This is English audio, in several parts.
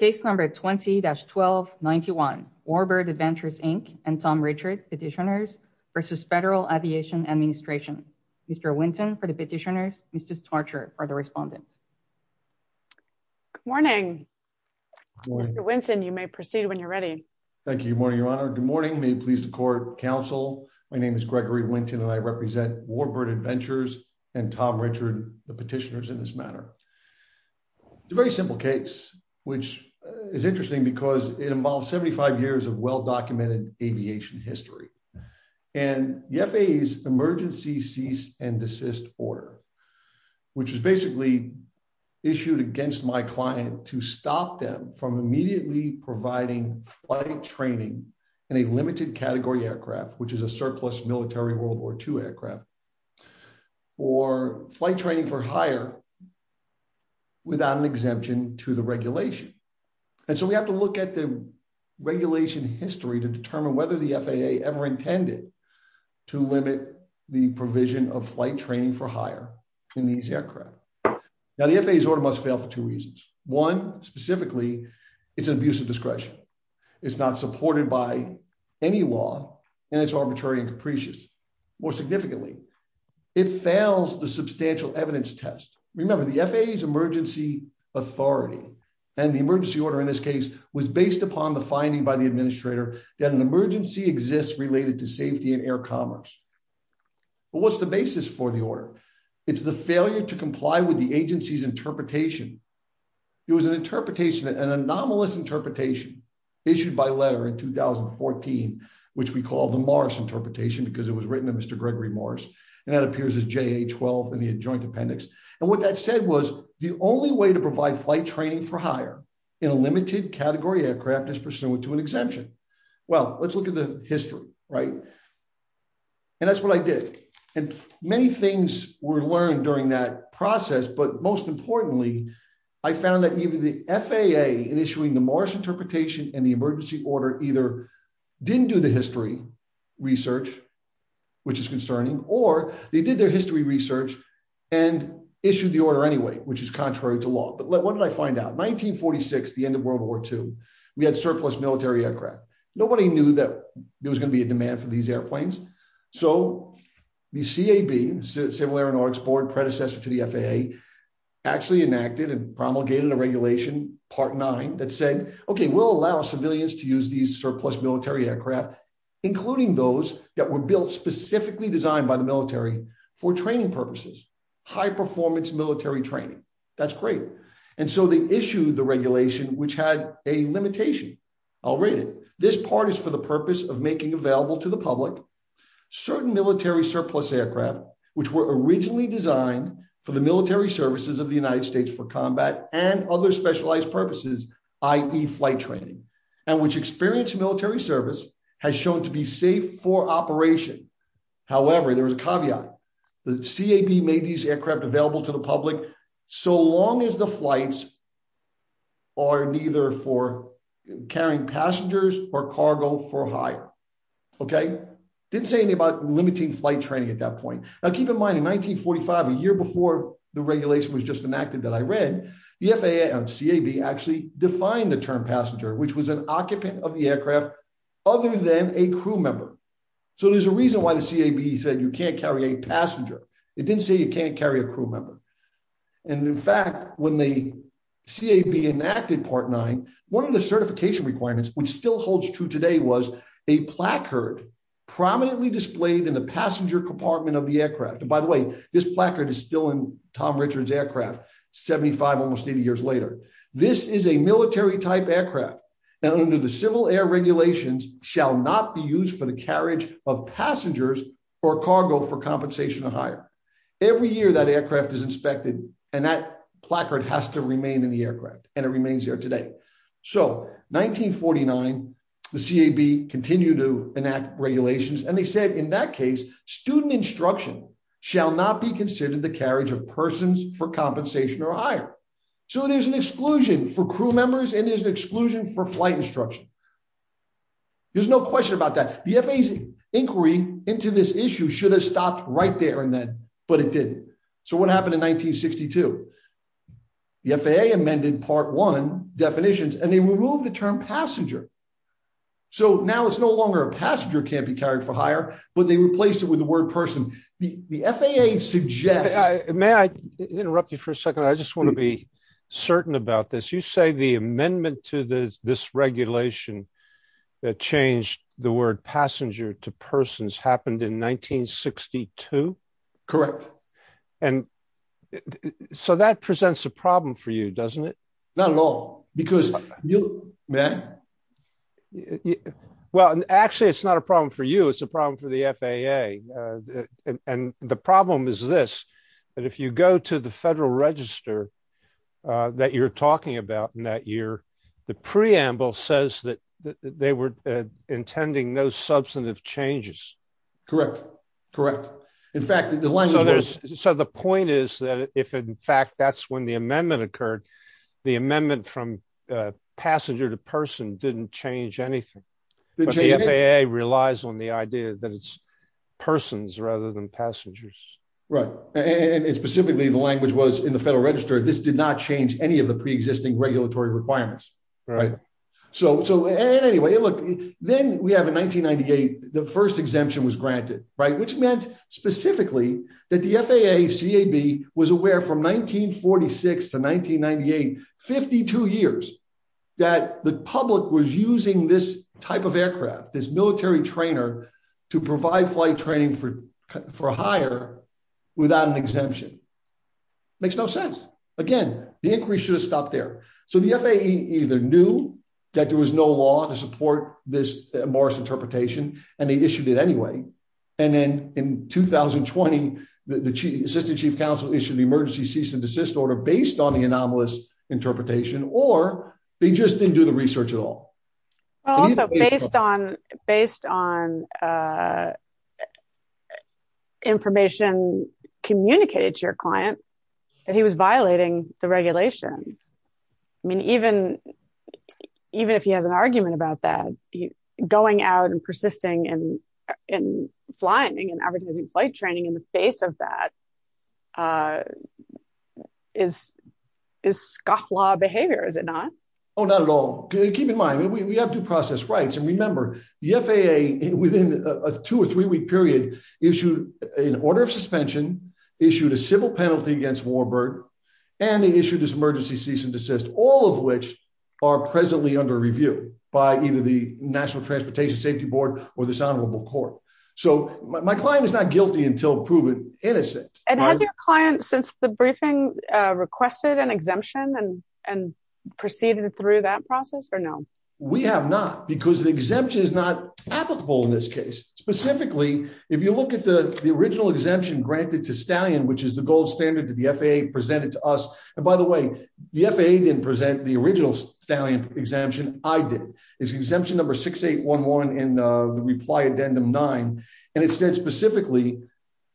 Case number 20-1291, Warbird Adventures, Inc. and Tom Richard, Petitioners v. Federal Aviation Administration. Mr. Winton for the Petitioners, Mrs. Tarcher for the Respondents. Good morning. Mr. Winton, you may proceed when you're ready. Thank you. Good morning, Your Honor. Good morning. May it please the Court, Counsel. My name is Gregory Winton and I represent Warbird Adventures and Tom Richard, the Petitioners in this matter. It's a very simple case which is interesting because it involves 75 years of well-documented aviation history. And the FAA's Emergency Cease and Desist Order, which is basically issued against my client to stop them from immediately providing flight training in a limited category aircraft, which is a surplus military World War II aircraft, for flight training for hire without an exemption to the regulation. And so we have to look at the regulation history to determine whether the FAA ever intended to limit the provision of flight training for hire in these aircraft. Now, the FAA's order must fail for two reasons. One, specifically, it's an abuse of discretion. It's not supported by any law, and it's arbitrary and capricious. More significantly, it fails the substantial evidence test. Remember, the FAA's emergency authority and the emergency order in this case was based upon the finding by the administrator that an emergency exists related to safety and air commerce. But what's the basis for the order? It's the failure to comply with the agency's interpretation. It was an interpretation, an anomalous interpretation issued by letter in 2014, which we call the Morris Interpretation because it was written to Mr. Gregory Morris, and that appears as JA-12 in the adjoint appendix. And what that said was the only way to provide flight training for hire in a limited category aircraft is pursuant to an exemption. Well, let's look at the history, right? And that's what I did. And many things were learned during that process, but most importantly, I found that even the FAA in issuing the Morris Interpretation and the emergency order either didn't do the history research, which is concerning, or they did their history research and issued the order anyway, which is contrary to law. But what did I find out? 1946, the end of World War II, we had surplus military aircraft. Nobody knew that there was going to be a demand for these airplanes. So the CAB, Civil Air and Aeronautics Board, predecessor to the FAA, actually enacted and promulgated a regulation, Part 9, that said, okay, we'll allow civilians to use these surplus military aircraft, including those that were built specifically designed by the military for training purposes, high-performance military training. That's great. And so they issued the regulation, which had a limitation. I'll read it. This part is for the purpose of making available to the public certain military surplus aircraft, which were originally designed for the military services of the United States for combat and other specialized purposes, i.e., flight training, and which experienced military service has shown to be safe for operation. However, there was a caveat. The CAB made these aircraft available to the public so long as the flights are neither for carrying passengers or cargo for hire. Okay? Didn't say anything about limiting flight training at that point. Now, keep in mind, in 1945, a year before the regulation was just enacted that I read, the FAA and CAB actually defined the term passenger, which was an occupant of the aircraft other than a crew member. So there's a reason why the CAB said you can't carry a passenger. It didn't say you can't carry a crew member. And in fact, when the CAB enacted Part 9, one of the certification requirements, which still holds true today, was a placard prominently displayed in the passenger compartment of the aircraft. And by the way, this placard is still in Tom Richard's aircraft 75, almost 80 years later. This is a military type aircraft, and under the civil air regulations, shall not be used for the carriage of passengers or cargo for compensation or hire. Every year that aircraft is inspected, and that placard has to continue to enact regulations. And they said in that case, student instruction shall not be considered the carriage of persons for compensation or hire. So there's an exclusion for crew members, and there's an exclusion for flight instruction. There's no question about that. The FAA's inquiry into this issue should have stopped right there and then, but it didn't. So what happened in 1962? The FAA amended Part 1 definitions, and they removed the term passenger. So now it's no longer a passenger can't be carried for hire, but they replace it with the word person. The FAA suggests... May I interrupt you for a second? I just want to be certain about this. You say the amendment to this regulation that changed the word passenger to persons happened in 1962? Correct. And so that presents a problem for you, doesn't it? Not at all, because... Well, actually, it's not a problem for you. It's a problem for the FAA. And the problem is this, that if you go to the Federal Register that you're talking about in that year, the preamble says that they were intending no substantive changes. Correct. Correct. In fact, the language... So the point is that if in fact that's when the amendment occurred, the amendment from passenger to person didn't change anything. But the FAA relies on the idea that it's persons rather than passengers. Right. And specifically, the language was in the Federal Register, this did not change any of the which meant specifically that the FAA, CAB was aware from 1946 to 1998, 52 years that the public was using this type of aircraft, this military trainer to provide flight training for hire without an exemption. Makes no sense. Again, the increase should have stopped there. So the FAA either knew that there was no law to support this Morris interpretation, and they issued it anyway. And then in 2020, the assistant chief counsel issued the emergency cease and desist order based on the anomalous interpretation, or they just didn't do the research at all. Based on information communicated to your client, that he was violating the and advertising flight training in the face of that is scofflaw behavior, is it not? Oh, not at all. Keep in mind, we have due process rights. And remember, the FAA within a two or three week period issued an order of suspension, issued a civil penalty against Warburg, and they issued this emergency cease and desist, all of which are presently under review by either National Transportation Safety Board or this honorable court. So my client is not guilty until proven innocent. And has your client since the briefing requested an exemption and proceeded through that process or no? We have not because the exemption is not applicable in this case. Specifically, if you look at the original exemption granted to stallion, which is the gold standard to the FAA presented to us. And by the way, the FAA didn't present the original stallion exemption. I did. It's exemption number 6811 in the reply addendum nine. And it said specifically,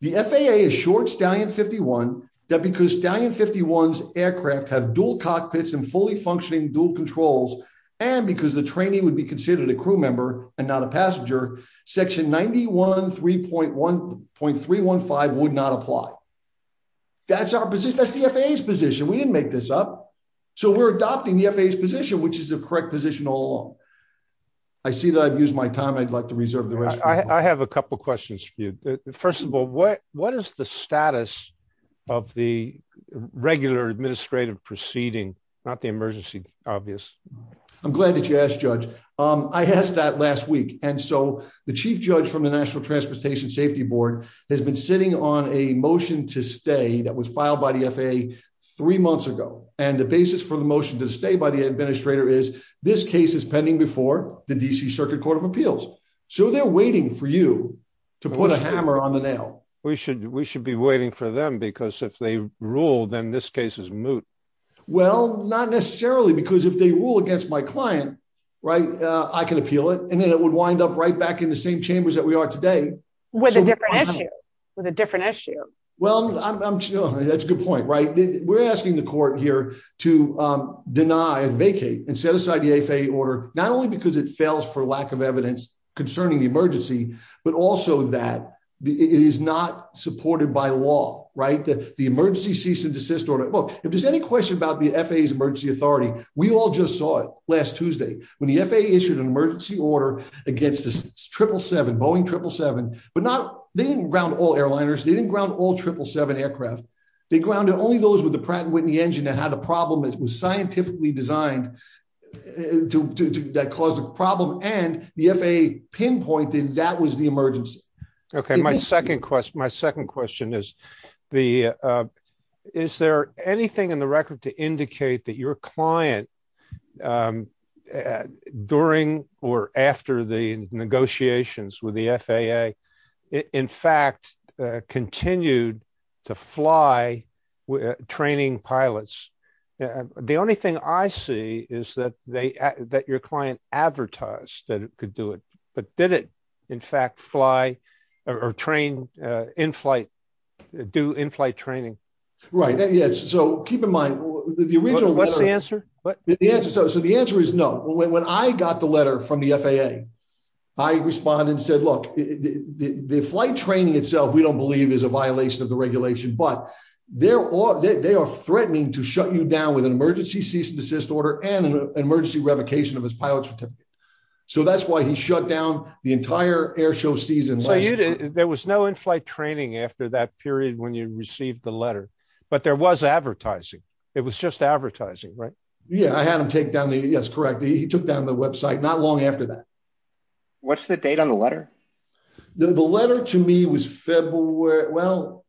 the FAA is short stallion 51, that because stallion 51's aircraft have dual cockpits and fully functioning dual controls. And because the training would be considered a crew member and not a passenger, section 913.315 would not apply. That's our position. That's the FAA's position. We didn't make this up. So we're adopting the FAA's position, which is the I see that I've used my time, I'd like to reserve the rest. I have a couple questions for you. First of all, what what is the status of the regular administrative proceeding, not the emergency obvious? I'm glad that you asked, Judge. I asked that last week. And so the chief judge from the National Transportation Safety Board has been sitting on a motion to stay that was filed by the FAA three months ago. And the basis for the motion to stay by the administrator is this case pending before the D.C. Circuit Court of Appeals. So they're waiting for you to put a hammer on the nail. We should we should be waiting for them, because if they rule, then this case is moot. Well, not necessarily, because if they rule against my client, right, I can appeal it. And then it would wind up right back in the same chambers that we are today. With a different issue, with a different issue. Well, I'm sure that's a good point, right? We're asking the court here to deny, vacate and set aside the FAA order not only because it fails for lack of evidence concerning the emergency, but also that it is not supported by law. Right. The emergency cease and desist order. Well, if there's any question about the FAA's emergency authority, we all just saw it last Tuesday when the FAA issued an emergency order against the 777, Boeing 777, but not they didn't ground all airliners. They didn't ground all 777 aircraft. They grounded only those with the Pratt and Whitney engine and how the problem was scientifically designed to cause a problem. And the FAA pinpointed that was the emergency. Okay, my second question, my second question is, the is there anything in the record to indicate that your client during or after the negotiations with the FAA, in fact, continued to fly with training pilots? The only thing I see is that they that your client advertised that it could do it, but did it in fact fly or train in flight, do in flight training? Right. Yes. So keep in mind, what's the answer? So the answer is no. When I got the letter from the FAA, I responded and said, look, the flight training itself, we don't believe is a violation of the regulation, but there are, they are threatening to shut you down with an emergency cease and desist order and an emergency revocation of his pilot certificate. So that's why he shut down the entire air show season. So you didn't, there was no in-flight training after that period when you received the letter, but there was advertising. It was just advertising, right? Yeah, I had him take down the, yes, correct. He took down the website not long after that. What's the date on the letter? The letter to me was February, well,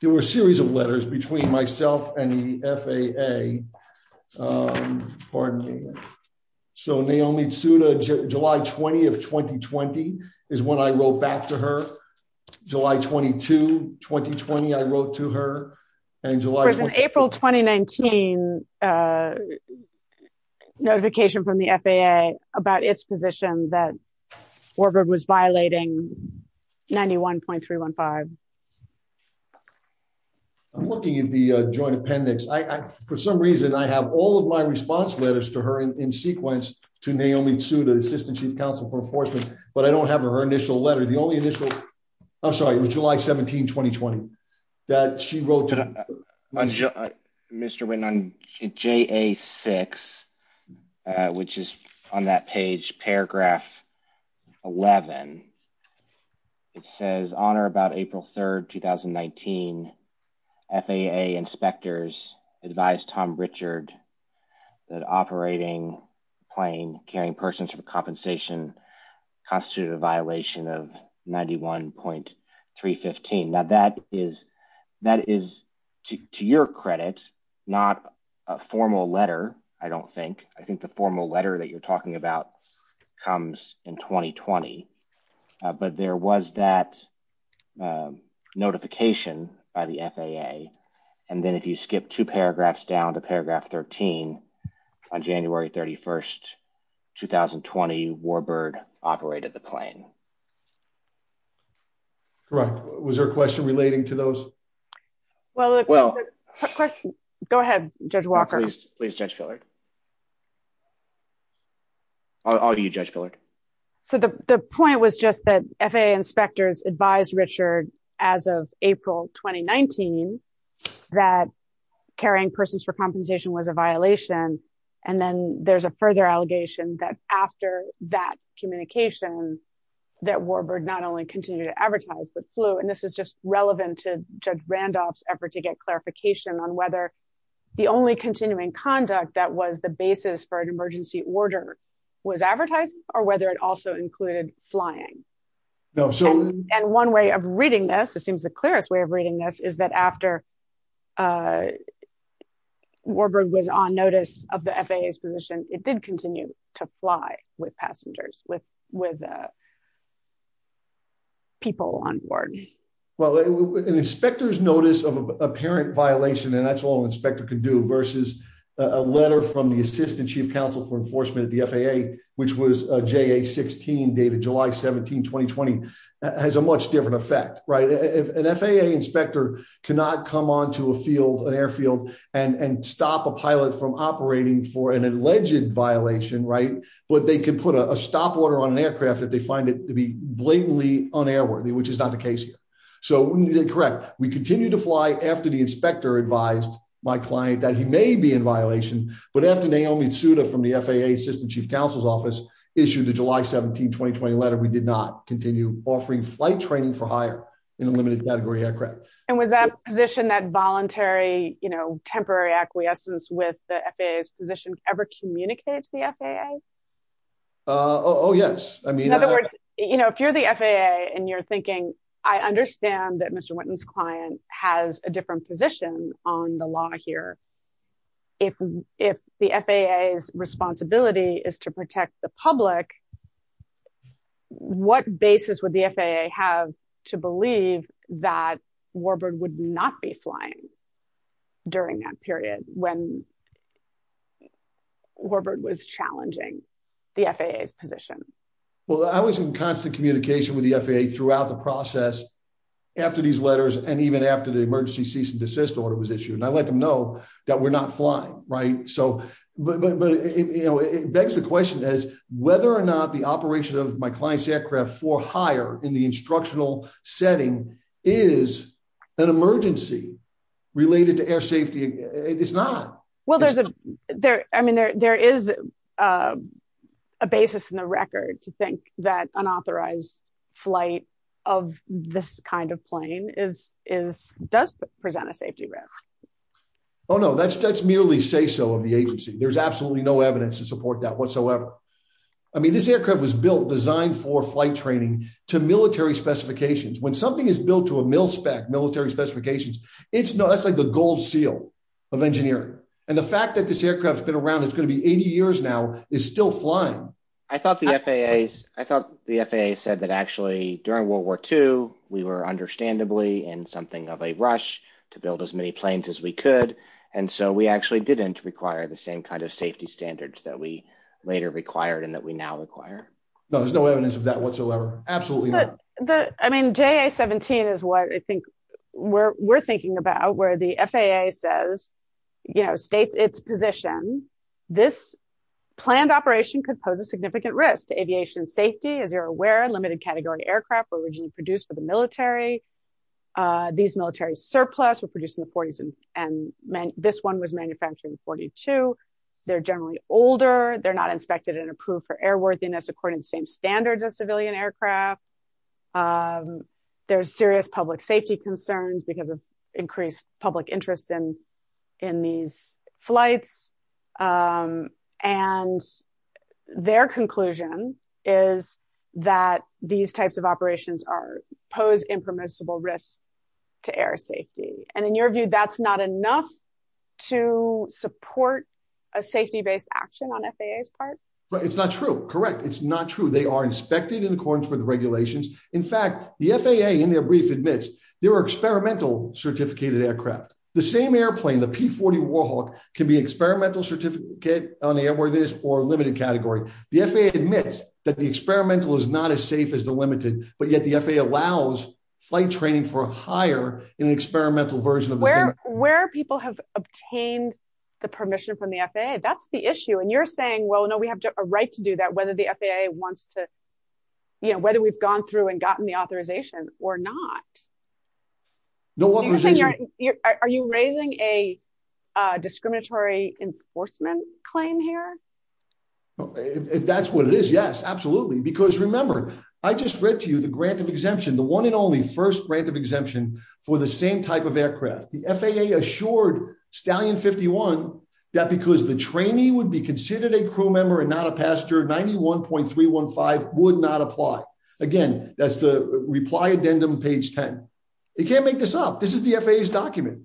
there were a series of letters between myself and the FAA. Pardon me. So Naomi Tsuda, July 20 of 2020 is when I wrote back to her. July 22, 2020, I wrote to her and July. April, 2019 notification from the FAA about its position that Warburg was violating 91.315. I'm looking at the joint appendix. I, for some reason, I have all of my response letters to her in sequence to Naomi Tsuda, assistant chief counsel for enforcement, but I don't have her initial letter. The only initial, I'm sorry, it was July 17, 2020 that she wrote to me. Mr. Witten, on JA6, which is on that page, paragraph 11, it says, on or about April 3rd, 2019, FAA inspectors advised Tom Richard that operating plane carrying persons for compensation constituted a violation of 91.315. Now that is, to your credit, not a formal letter, I don't think. I think the formal letter that you're talking about comes in 2020, but there was that notification by the FAA. And then if you skip two paragraphs down to paragraph 13, on January 31st, 2020, Warburg operated the plane. Correct. Was there a question relating to those? Well, go ahead, Judge Walker. Please, please, Judge Pillard. All you, Judge Pillard. So the point was just that FAA inspectors advised Richard as of April, 2019, that carrying persons for compensation was a violation. And then there's a further allegation that after that communication, that Warburg not only continued to advertise, but flew. And this is just relevant to Judge Randolph's effort to get clarification on whether the only continuing conduct that was the basis for an emergency order was advertising or whether it also included flying. And one way of reading this, it seems the clearest way of reading this, is that after Warburg was on notice of the FAA's position, it did continue to fly with passengers, with people on board. Well, an inspector's notice of apparent violation, and that's all an inspector could do, versus a letter from the Assistant Chief Counsel for Enforcement at the FAA, which was JA-16, dated July 17, 2020, has a much different effect, right? An FAA inspector cannot come onto a field, an airfield, and stop a pilot from operating for an alleged violation, right? But they can put a stop order on an aircraft if they find it to be blatantly un-airworthy, which is not the case here. So, correct, we continue to fly after the inspector advised my client that he may be in violation, but after Naomi Tsuda from the FAA Assistant Chief Counsel's office issued the July 17, 2020 letter, we did not continue offering flight training for hire in a limited category aircraft. And was that position, that voluntary, you know, temporary acquiescence with the FAA's position, ever communicated to the FAA? Oh, yes. I mean, in other words, you know, if you're the FAA, and you're thinking, I understand that Mr. Whitten's client has a different position on the air, if the FAA's responsibility is to protect the public, what basis would the FAA have to believe that Warbird would not be flying during that period when Warbird was challenging the FAA's position? Well, I was in constant communication with the FAA throughout the process after these that we're not flying, right? So, but, you know, it begs the question as whether or not the operation of my client's aircraft for hire in the instructional setting is an emergency related to air safety. It's not. Well, there's, I mean, there is a basis in the record to think that unauthorized flight of this kind of plane does present a safety risk. Oh, no, that's merely say-so of the agency. There's absolutely no evidence to support that whatsoever. I mean, this aircraft was built, designed for flight training to military specifications. When something is built to a mil-spec military specifications, it's like the gold seal of engineering. And the fact that this aircraft's been around, it's going to be 80 years now, is still flying. I thought the FAA said that actually during World War II, we were And so we actually didn't require the same kind of safety standards that we later required and that we now require. No, there's no evidence of that whatsoever. Absolutely not. I mean, JA-17 is what I think we're thinking about where the FAA says, you know, states its position. This planned operation could pose a significant risk to aviation safety. As you're aware, limited category aircraft were originally produced for the military. These military surplus were produced in the 40s and this one was manufactured in 42. They're generally older. They're not inspected and approved for airworthiness according to the same standards as civilian aircraft. There's serious public safety concerns because of increased public interest in these flights. And their conclusion is that these types of risks to air safety. And in your view, that's not enough to support a safety-based action on FAA's part? It's not true. Correct. It's not true. They are inspected in accordance with the regulations. In fact, the FAA in their brief admits they were experimental certificated aircraft. The same airplane, the P-40 Warhawk, can be experimental certificate on the airworthiness or limited category. The FAA admits that the experimental is not as safe as the limited, but yet the FAA allows flight training for hire in an experimental version of the same. Where people have obtained the permission from the FAA? That's the issue. And you're saying, well, no, we have a right to do that. Whether the FAA wants to, you know, whether we've gone through and gotten the authorization or not. Are you raising a discriminatory enforcement claim here? That's what it is. Yes, absolutely. Because remember, I just read to you the grant of exemption for the same type of aircraft. The FAA assured Stallion 51 that because the trainee would be considered a crew member and not a passenger, 91.315 would not apply. Again, that's the reply addendum page 10. You can't make this up. This is the FAA's document.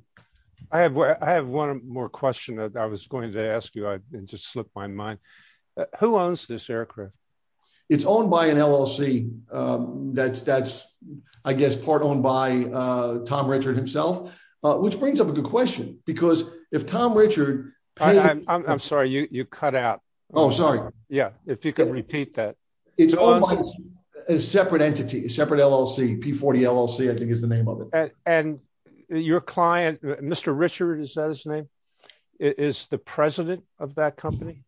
I have one more question that I was going to ask you. I just slipped my mind. Who owns this aircraft? It's owned by an LLC. That's, I guess, part owned by Tom Richard himself, which brings up a good question because if Tom Richard... I'm sorry, you cut out. Oh, sorry. Yeah. If you could repeat that. It's owned by a separate entity, a separate LLC, P40 LLC, I think is the name of it. And your client, Mr. Richard, is that his name? Is the president of that company?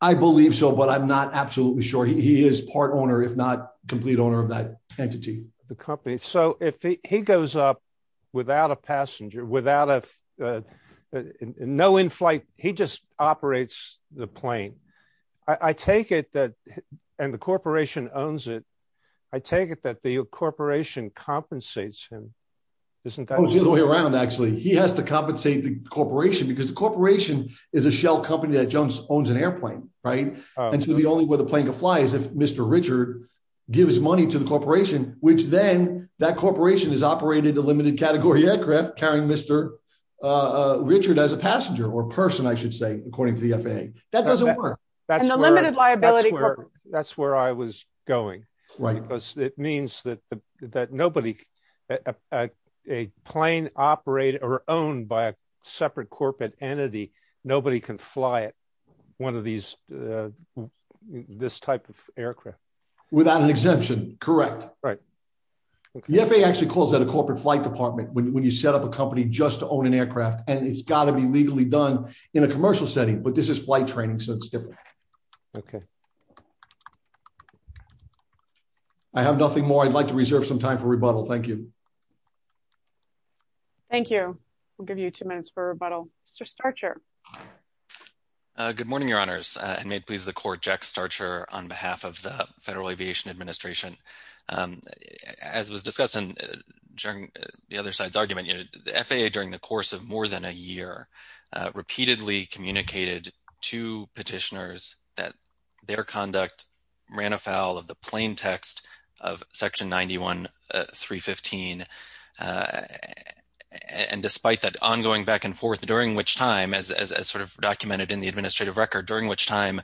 I believe so, but I'm not absolutely sure. He is part owner, if not complete owner of that entity. The company. So if he goes up without a passenger, no in-flight, he just operates the plane. I take it that... And the corporation owns it. I take it that the corporation compensates him. Isn't that- It's the other way around, actually. He has to compensate the corporation because the corporation is a shell company that owns an airplane. And so the only way the plane could fly is if Mr. Richard give his money to the corporation, which then that corporation has operated a limited category aircraft carrying Mr. Richard as a passenger or person, I should say, according to the FAA. That doesn't work. And the limited liability- That's where I was going. Because it means that nobody, a plane operated or owned by a separate corporate entity, nobody can fly it, one of these, this type of aircraft. Without an exemption. Correct. Right. The FAA actually calls that a corporate flight department when you set up a company just to own an aircraft and it's got to be legally done in a commercial setting, but this is flight training, so it's different. Okay. I have nothing more. I'd like to reserve some time for rebuttal. Thank you. Thank you. We'll give you two minutes for rebuttal. Mr. Starcher. Good morning, Your Honors, and may it please the Court, Jack Starcher on behalf of the Federal Aviation Administration. As was discussed during the other side's argument, the FAA during the course of more than a year repeatedly communicated to petitioners that their conduct ran afoul of the 91315. And despite that ongoing back and forth, during which time, as sort of documented in the administrative record, during which time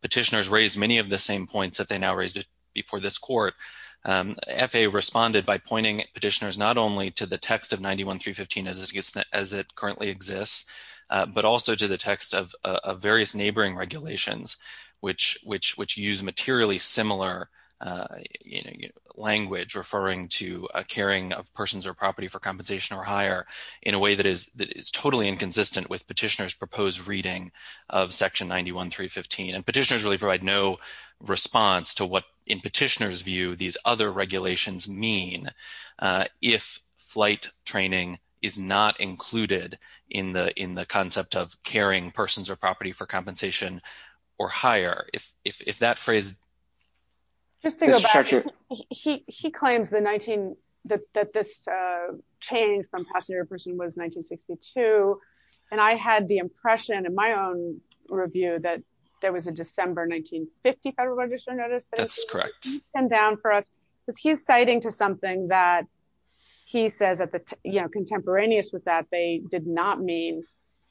petitioners raised many of the same points that they now raised before this Court, FAA responded by pointing petitioners not only to the text of 91315 as it currently exists, but also to the text of various neighboring regulations, which use materially similar language referring to a caring of persons or property for compensation or higher in a way that is totally inconsistent with petitioners' proposed reading of Section 91315. And petitioners really provide no response to what, in petitioners' view, these other regulations mean if flight training is not included in the concept of caring persons or property for compensation. Just to go back, he claims that this change from passenger to person was 1962, and I had the impression in my own review that there was a December 1950 Federal Register notice that he's pinned down for us, because he's citing to something that he says that, you know, contemporaneous with that, they did not mean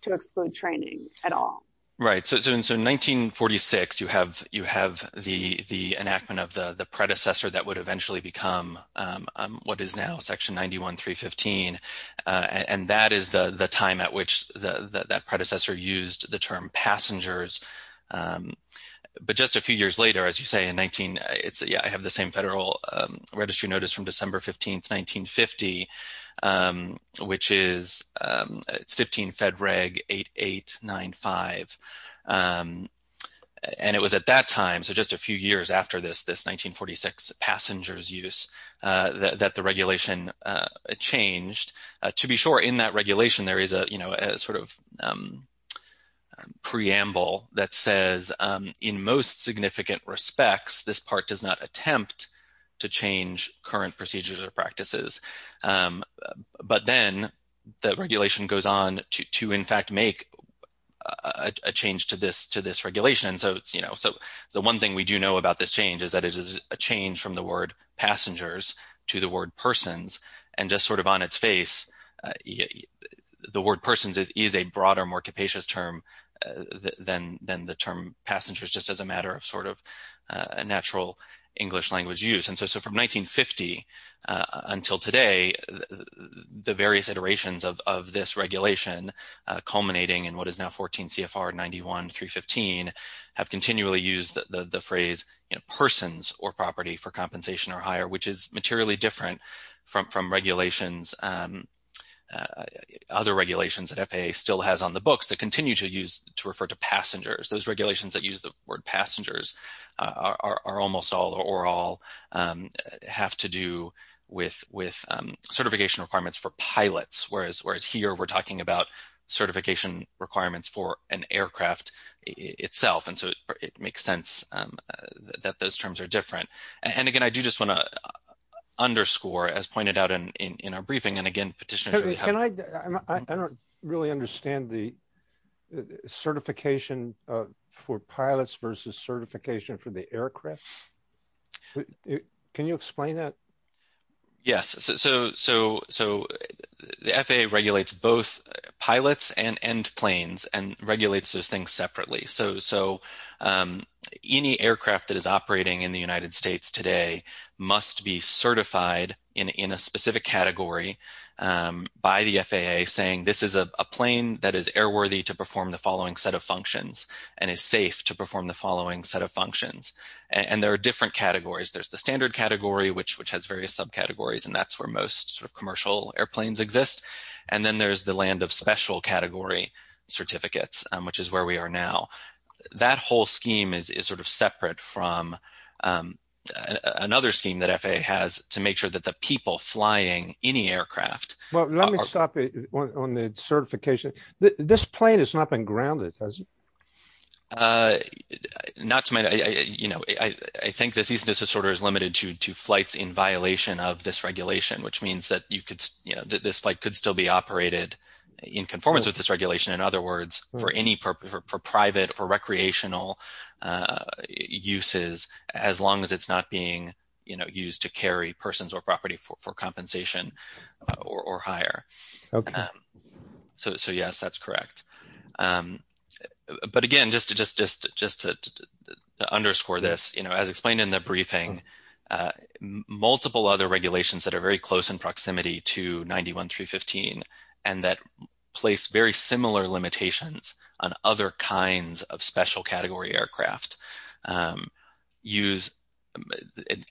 to exclude training at all. Right, so in 1946, you have the enactment of the predecessor that would eventually become what is now Section 91315, and that is the time at which that predecessor used the term passengers. But just a few years later, as you say, in 19- it's, yeah, I have the same Federal Registry notice from December 15, 1950, which is, it's 15 Fed Reg 8895. And it was at that time, so just a few years after this 1946 passengers use, that the regulation changed. To be sure, in that regulation, there is a, you know, a sort of preamble that says, in most significant respects, this part does not attempt to change current procedures or practices. But then the regulation goes on to, in fact, make a change to this, to this regulation. So it's, you know, so the one thing we do know about this change is that it is a change from the word passengers to the word persons, and just sort of on its face, yeah, the word persons is a broader, more capacious term than the term passengers, just as a matter of sort of natural English language use. And so from 1950 until today, the various iterations of this regulation culminating in what is now 14 CFR 91315 have continually used the phrase, you know, persons or property for compensation or higher, which is materially different from regulations, other regulations that FAA still has on the books that continue to use, to refer to passengers. Those regulations that use the word passengers are almost all or all have to do with certification requirements for pilots, whereas here we're talking about certification requirements for an aircraft itself. And so it makes sense that those terms are different. And again, I do just want to underscore, as pointed out in our briefing, and again, petitioners... I don't really understand the certification for pilots versus certification for the aircraft. Can you explain that? Yes. So the FAA regulates both pilots and planes and regulates those things separately. So any aircraft that is operating in the United States today must be certified in a specific category by the FAA, saying this is a plane that is airworthy to perform the following set of functions and is safe to perform the following set of functions. And there are different categories. There's the standard category, which has various subcategories, and that's where most sort of commercial airplanes exist. And then there's land of special category certificates, which is where we are now. That whole scheme is sort of separate from another scheme that FAA has to make sure that the people flying any aircraft... Well, let me stop on the certification. This plane has not been grounded, has it? Not to my... I think this easiness disorder is limited to flights in violation of this regulation. So it can't be operated in conformance with this regulation. In other words, for any purpose, for private or recreational uses, as long as it's not being used to carry persons or property for compensation or higher. So yes, that's correct. But again, just to underscore this, as explained in the briefing, multiple other regulations that are very close in proximity to 91.315, and that place very similar limitations on other kinds of special category aircraft, use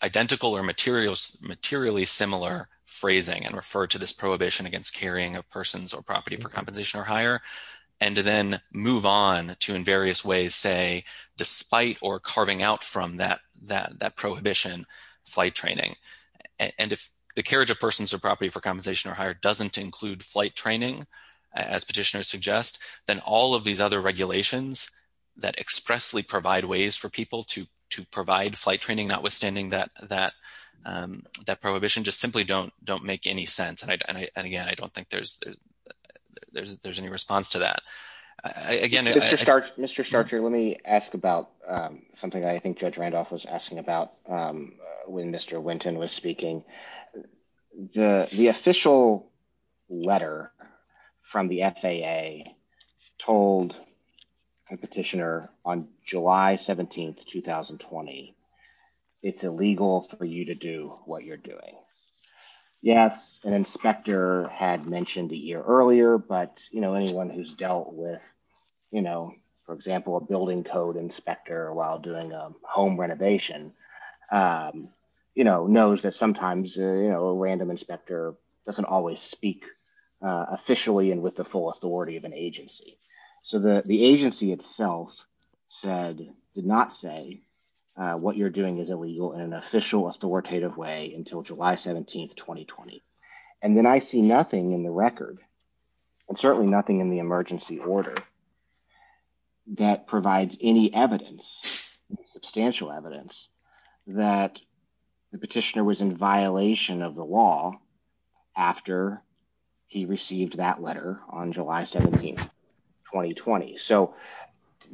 identical or materially similar phrasing and refer to this prohibition against carrying of persons or property for compensation or higher, and then move on to, in various ways, say, despite or carving out from that prohibition, flight training. And if the carriage of persons or property for compensation or higher doesn't include flight training, as petitioners suggest, then all of these other regulations that expressly provide ways for people to provide flight training, notwithstanding that prohibition, just simply don't make any sense. And again, I don't think there's any response to that. Mr. Starcher, let me ask about something that I think Judge Randolph was asking about when Mr. Winton was speaking. The official letter from the FAA told the petitioner on July 17, 2020, it's illegal for you to do what you're doing. Yes, an inspector had mentioned a year earlier, but anyone who's dealt with, for example, a building code inspector while doing a you know, knows that sometimes, you know, a random inspector doesn't always speak officially and with the full authority of an agency. So the agency itself said, did not say what you're doing is illegal in an official authoritative way until July 17, 2020. And then I see nothing in the record and certainly nothing in the emergency order that provides any evidence, substantial evidence, that the petitioner was in violation of the law after he received that letter on July 17, 2020. So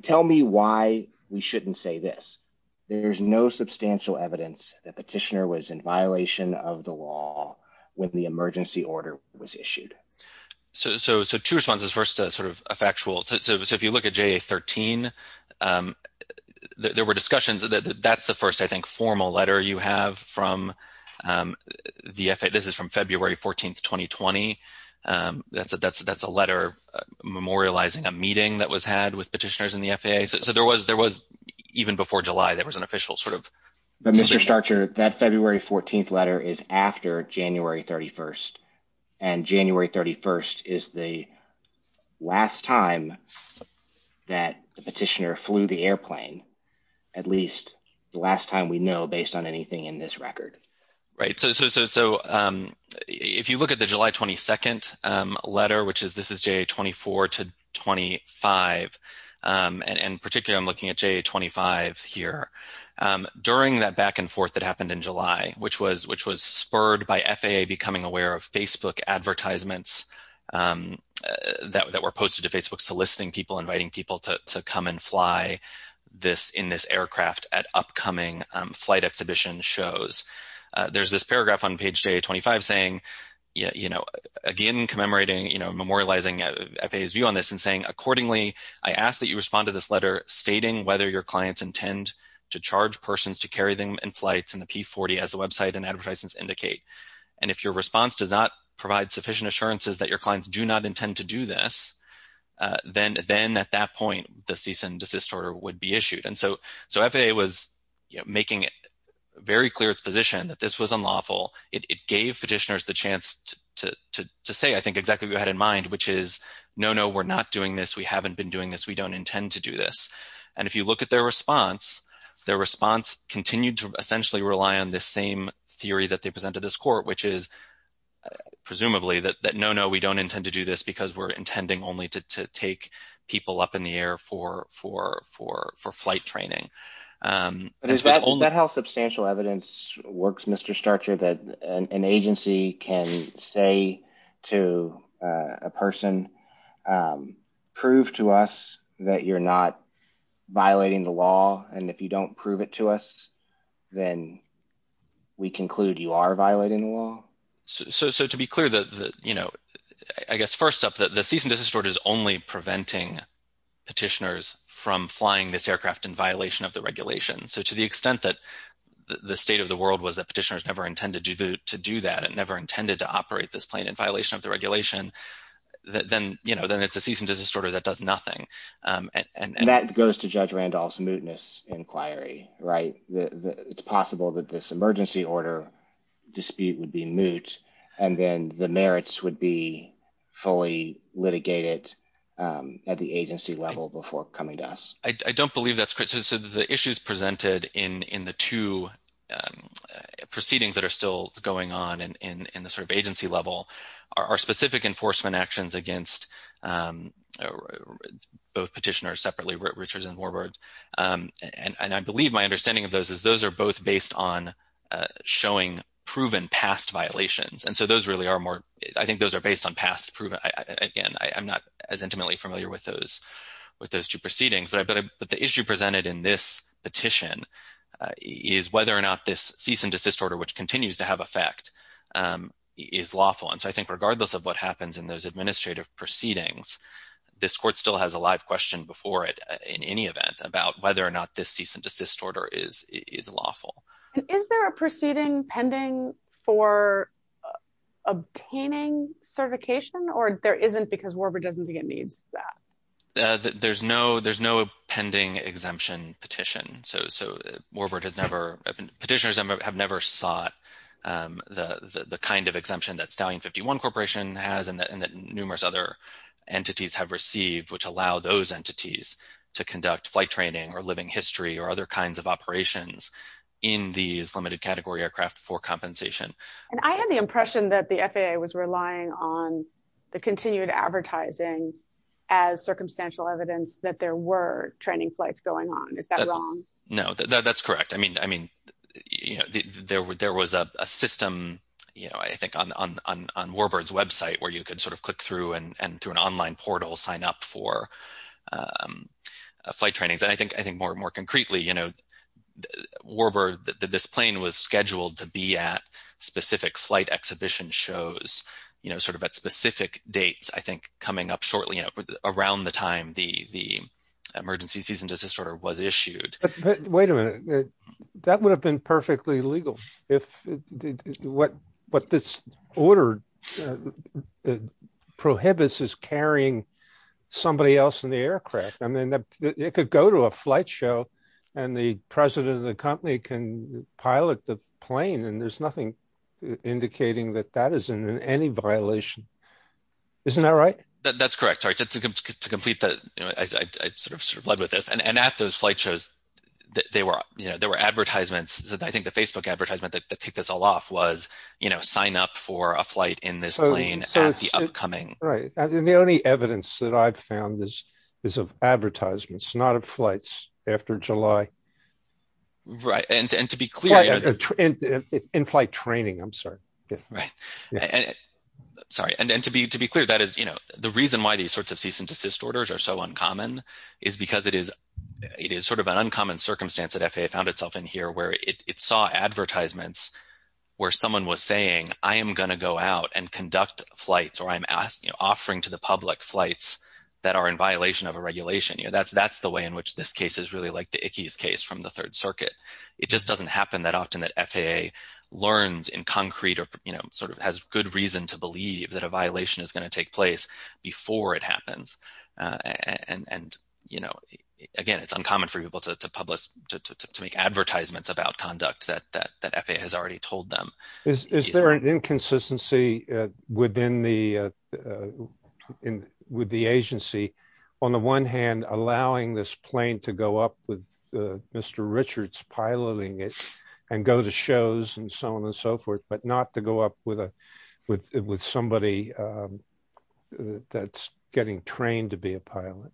tell me why we shouldn't say this. There's no substantial evidence that petitioner was in violation of the law when the emergency order was issued. So two responses, first sort of a factual. So if you look at JA 13, there were discussions that that's the first, I think, formal letter you have from the FAA. This is from February 14, 2020. That's a letter memorializing a meeting that was had with petitioners in the FAA. So there was, even before July, there was an official sort of. But Mr. Starcher, that February 14th letter is after January 31st and January 31st is the last time that the petitioner flew the airplane, at least the last time we know based on anything in this record. Right. So if you look at the July 22nd letter, which is this is JA 24 to 25. And in particular, I'm looking at JA 25 here. During that back and forth that happened in July, which was spurred by FAA becoming aware of Facebook advertisements that were posted to Facebook, soliciting people, inviting people to come and fly this in this aircraft at upcoming flight exhibition shows. There's this paragraph on page JA 25 saying, you know, again commemorating, you know, memorializing FAA's view on this and saying, accordingly, I ask that you respond to this letter stating whether your clients intend to charge persons to carry them in flights in the P-40 as the website and advertisements indicate. And if your response does not provide sufficient assurances that your clients do not intend to do this, then at that point, the cease and desist order would be issued. And so FAA was making it very clear its position that this was unlawful. It gave petitioners the chance to say, I think, exactly what you had in mind, which is, no, no, we're not doing this. We haven't been doing this. We don't intend to do this. And if you look at their response, their response continued to rely on this same theory that they presented this court, which is presumably that, no, no, we don't intend to do this because we're intending only to take people up in the air for flight training. Is that how substantial evidence works, Mr. Starcher, that an agency can say to a person, prove to us that you're not violating the law. And if you don't prove it to us, then we conclude you are violating the law? So to be clear, I guess, first up, the cease and desist order is only preventing petitioners from flying this aircraft in violation of the regulation. So to the extent that the state of the world was that petitioners never intended to do that and never intended to operate this plane in violation of the regulation, then it's a cease and desist order that does nothing. And that goes to Judge Randolph's inquiry, right? It's possible that this emergency order dispute would be moot and then the merits would be fully litigated at the agency level before coming to us. I don't believe that's correct. So the issues presented in the two proceedings that are still going on in the sort of agency level are specific enforcement actions against both petitioners separately, Richards and Warburg. And I believe my understanding of those is those are both based on showing proven past violations. And so those really are more, I think those are based on past proven. Again, I'm not as intimately familiar with those two proceedings, but the issue presented in this petition is whether or not this cease and desist order, which continues to have effect, is lawful. And so I think regardless of what happens in those administrative proceedings, this court still has a live question before it in any event about whether or not this cease and desist order is lawful. And is there a proceeding pending for obtaining certification or there isn't because Warburg doesn't think it needs that? There's no pending exemption petition. So Warburg has never, petitioners have never sought the kind of exemption that Stallion 51 has and that numerous other entities have received, which allow those entities to conduct flight training or living history or other kinds of operations in these limited category aircraft for compensation. And I had the impression that the FAA was relying on the continued advertising as circumstantial evidence that there were training flights going on. Is that wrong? No, that's correct. I mean, you know, there was a system, you know, I think on Warburg's website, where you could sort of click through and through an online portal sign up for flight trainings. And I think more concretely, you know, Warburg, this plane was scheduled to be at specific flight exhibition shows, you know, sort of at specific dates, I think coming up shortly around the time the emergency cease and desist order was issued. Wait a minute, that would have been perfectly legal. What this order prohibits is carrying somebody else in the aircraft. I mean, it could go to a flight show, and the president of the company can pilot the plane and there's nothing indicating that that is in any violation. Isn't that right? That's correct. To complete that, I sort of sort of led with this. And at those flight shows, they were, you know, there were advertisements that I think the Facebook advertisement that took this all off was, you know, sign up for a flight in this plane at the upcoming... Right. And the only evidence that I've found is of advertisements, not of flights after July. Right. And to be clear... That is, you know, the reason why these sorts of cease and desist orders are so uncommon is because it is sort of an uncommon circumstance that FAA found itself in here where it saw advertisements where someone was saying, I am going to go out and conduct flights or I'm offering to the public flights that are in violation of a regulation. You know, that's the way in which this case is really like the Ickes case from the Third Circuit. It just doesn't happen that often that FAA learns in concrete or, you know, sort of has good reason to believe that a violation is going to take place before it happens. And, you know, again, it's uncommon for people to publish, to make advertisements about conduct that FAA has already told them. Is there an inconsistency within the, with the agency, on the one hand, allowing this plane to go up with Mr. Richards piloting it and go to shows and so on and so forth, but not to go up with somebody that's getting trained to be a pilot?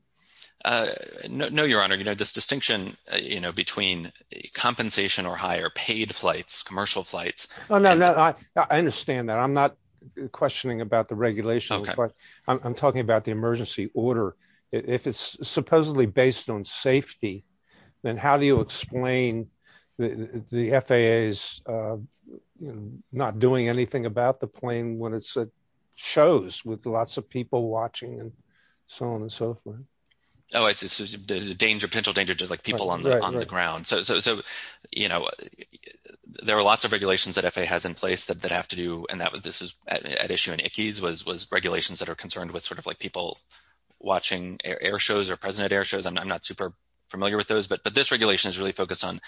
No, your honor, you know, this distinction, you know, between compensation or higher paid flights, commercial flights... Oh, no, no, I understand that. I'm not questioning about the regulation. I'm talking about the then how do you explain the FAA is not doing anything about the plane when it's at shows with lots of people watching and so on and so forth? Oh, it's a danger, potential danger to like people on the ground. So, you know, there are lots of regulations that FAA has in place that have to do and that this is at issue in Ickes was regulations that are concerned with sort of like people watching air shows or present at air shows. I'm not super familiar with those, but this regulation is really focused on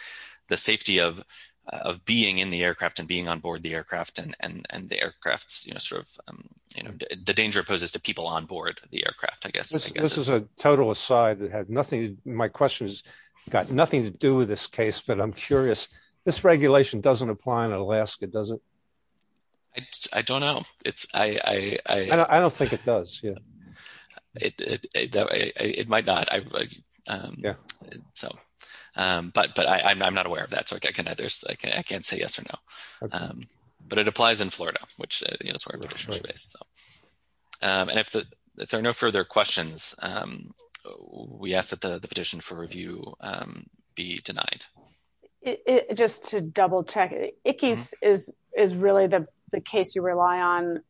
the safety of being in the aircraft and being on board the aircraft and the aircrafts, you know, sort of, you know, the danger poses to people on board the aircraft, I guess. This is a total aside that had nothing. My question has got nothing to do with this case, but I'm curious, this regulation doesn't apply in Alaska, does it? I don't know. It's I... I don't think it does, yeah. It might not. But I'm not aware of that, so I can't say yes or no. But it applies in Florida, which is where it's based. And if there are no further questions, we ask that the petition for review be denied. Just to double check, Ickes is really the case you rely on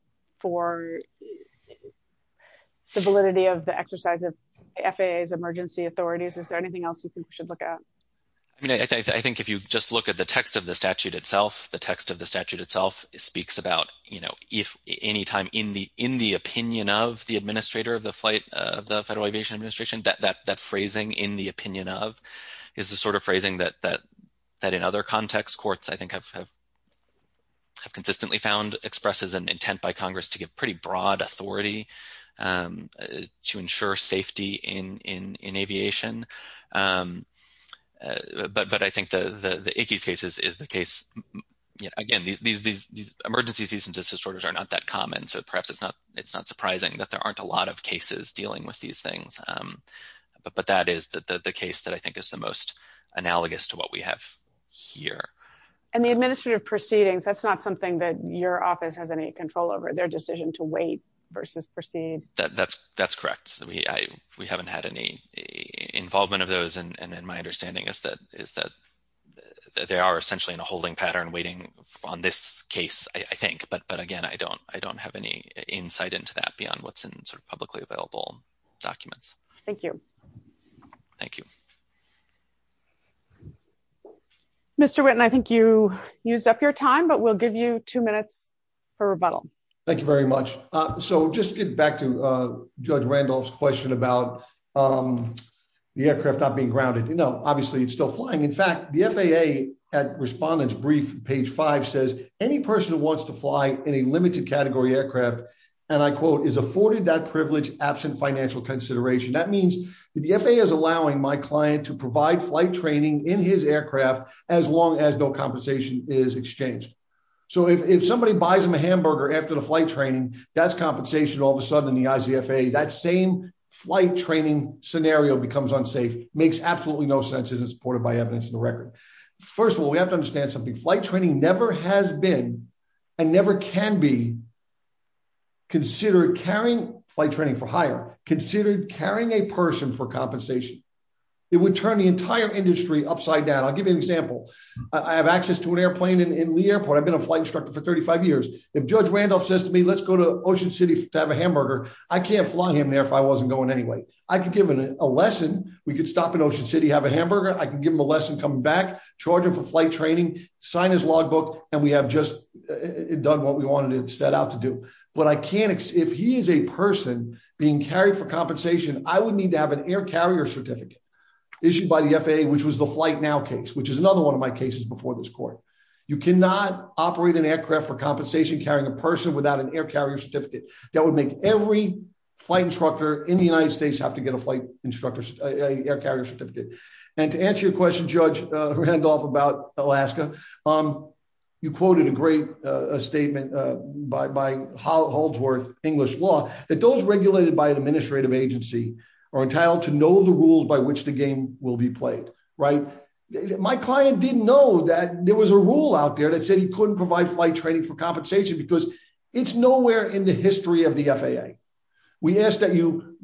for the validity of the exercise of FAA's emergency authorities. Is there anything else you think we should look at? I mean, I think if you just look at the text of the statute itself, the text of the statute itself speaks about, you know, if any time in the opinion of the administrator of the flight of the Federal Aviation Administration, that phrasing in the opinion of is the sort of phrasing that in other contexts courts, I think, have consistently found expresses an intent by Congress to give pretty broad authority to ensure safety in aviation. But I think the Ickes case is the case. Again, these emergency cease and desist orders are not that common, so perhaps it's not surprising that there aren't a lot of cases dealing with these things. But that is the case that I think is the most analogous to what we have here. And the administrative proceedings, that's not something that your office has any control over, their decision to wait versus proceed? That's correct. We haven't had any involvement of those, and my understanding is that they are essentially in a holding pattern, waiting on this case, I think. But again, I don't have any insight into that beyond what's in sort of the documents. Thank you. Thank you. Mr. Whitten, I think you used up your time, but we'll give you two minutes for rebuttal. Thank you very much. So just getting back to Judge Randolph's question about the aircraft not being grounded, you know, obviously it's still flying. In fact, the FAA at Respondent's Brief, page five, says any person who wants to fly in a limited category aircraft, and I quote, is afforded that privilege absent financial consideration. That means the FAA is allowing my client to provide flight training in his aircraft as long as no compensation is exchanged. So if somebody buys him a hamburger after the flight training, that's compensation. All of a sudden, in the eyes of the FAA, that same flight training scenario becomes unsafe, makes absolutely no sense, isn't supported by evidence in the record. First of all, we have to understand something. Flight training never has been and never can be considered carrying, flight training for hire, considered carrying a person for compensation. It would turn the entire industry upside down. I'll give you an example. I have access to an airplane in the airport. I've been a flight instructor for 35 years. If Judge Randolph says to me, let's go to Ocean City to have a hamburger, I can't fly him there if I wasn't going anyway. I could give him a lesson. We could stop in Ocean City, have a hamburger. I can give him a lesson, come back, charge him for flight training, sign his logbook, and we have just done what we wanted to set out to do. But if he is a person being carried for compensation, I would need to have an air carrier certificate issued by the FAA, which was the Flight Now case, which is another one of my cases before this court. You cannot operate an aircraft for compensation carrying a person without an air carrier certificate. That would make every flight instructor in the United States have to get a flight instructor air carrier certificate. To answer your question, Judge Randolph, about Alaska, you quoted a great statement by Haldsworth, English law, that those regulated by an administrative agency are entitled to know the rules by which the game will be played. My client didn't know that there was a rule out there that said he couldn't provide flight training for compensation because it's nowhere in the history of the FAA. We ask that you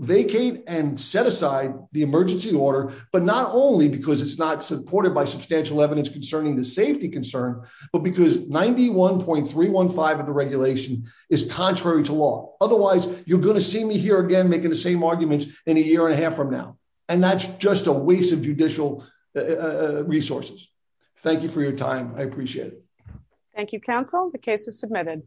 vacate and set aside the emergency order, but not only because it's not supported by substantial evidence concerning the safety concern, but because 91.315 of the regulation is contrary to law. Otherwise, you're going to see me here again making the same arguments in a year and a half from now, and that's just a waste of judicial resources. Thank you for your time. I appreciate it. Thank you, counsel. The case is submitted.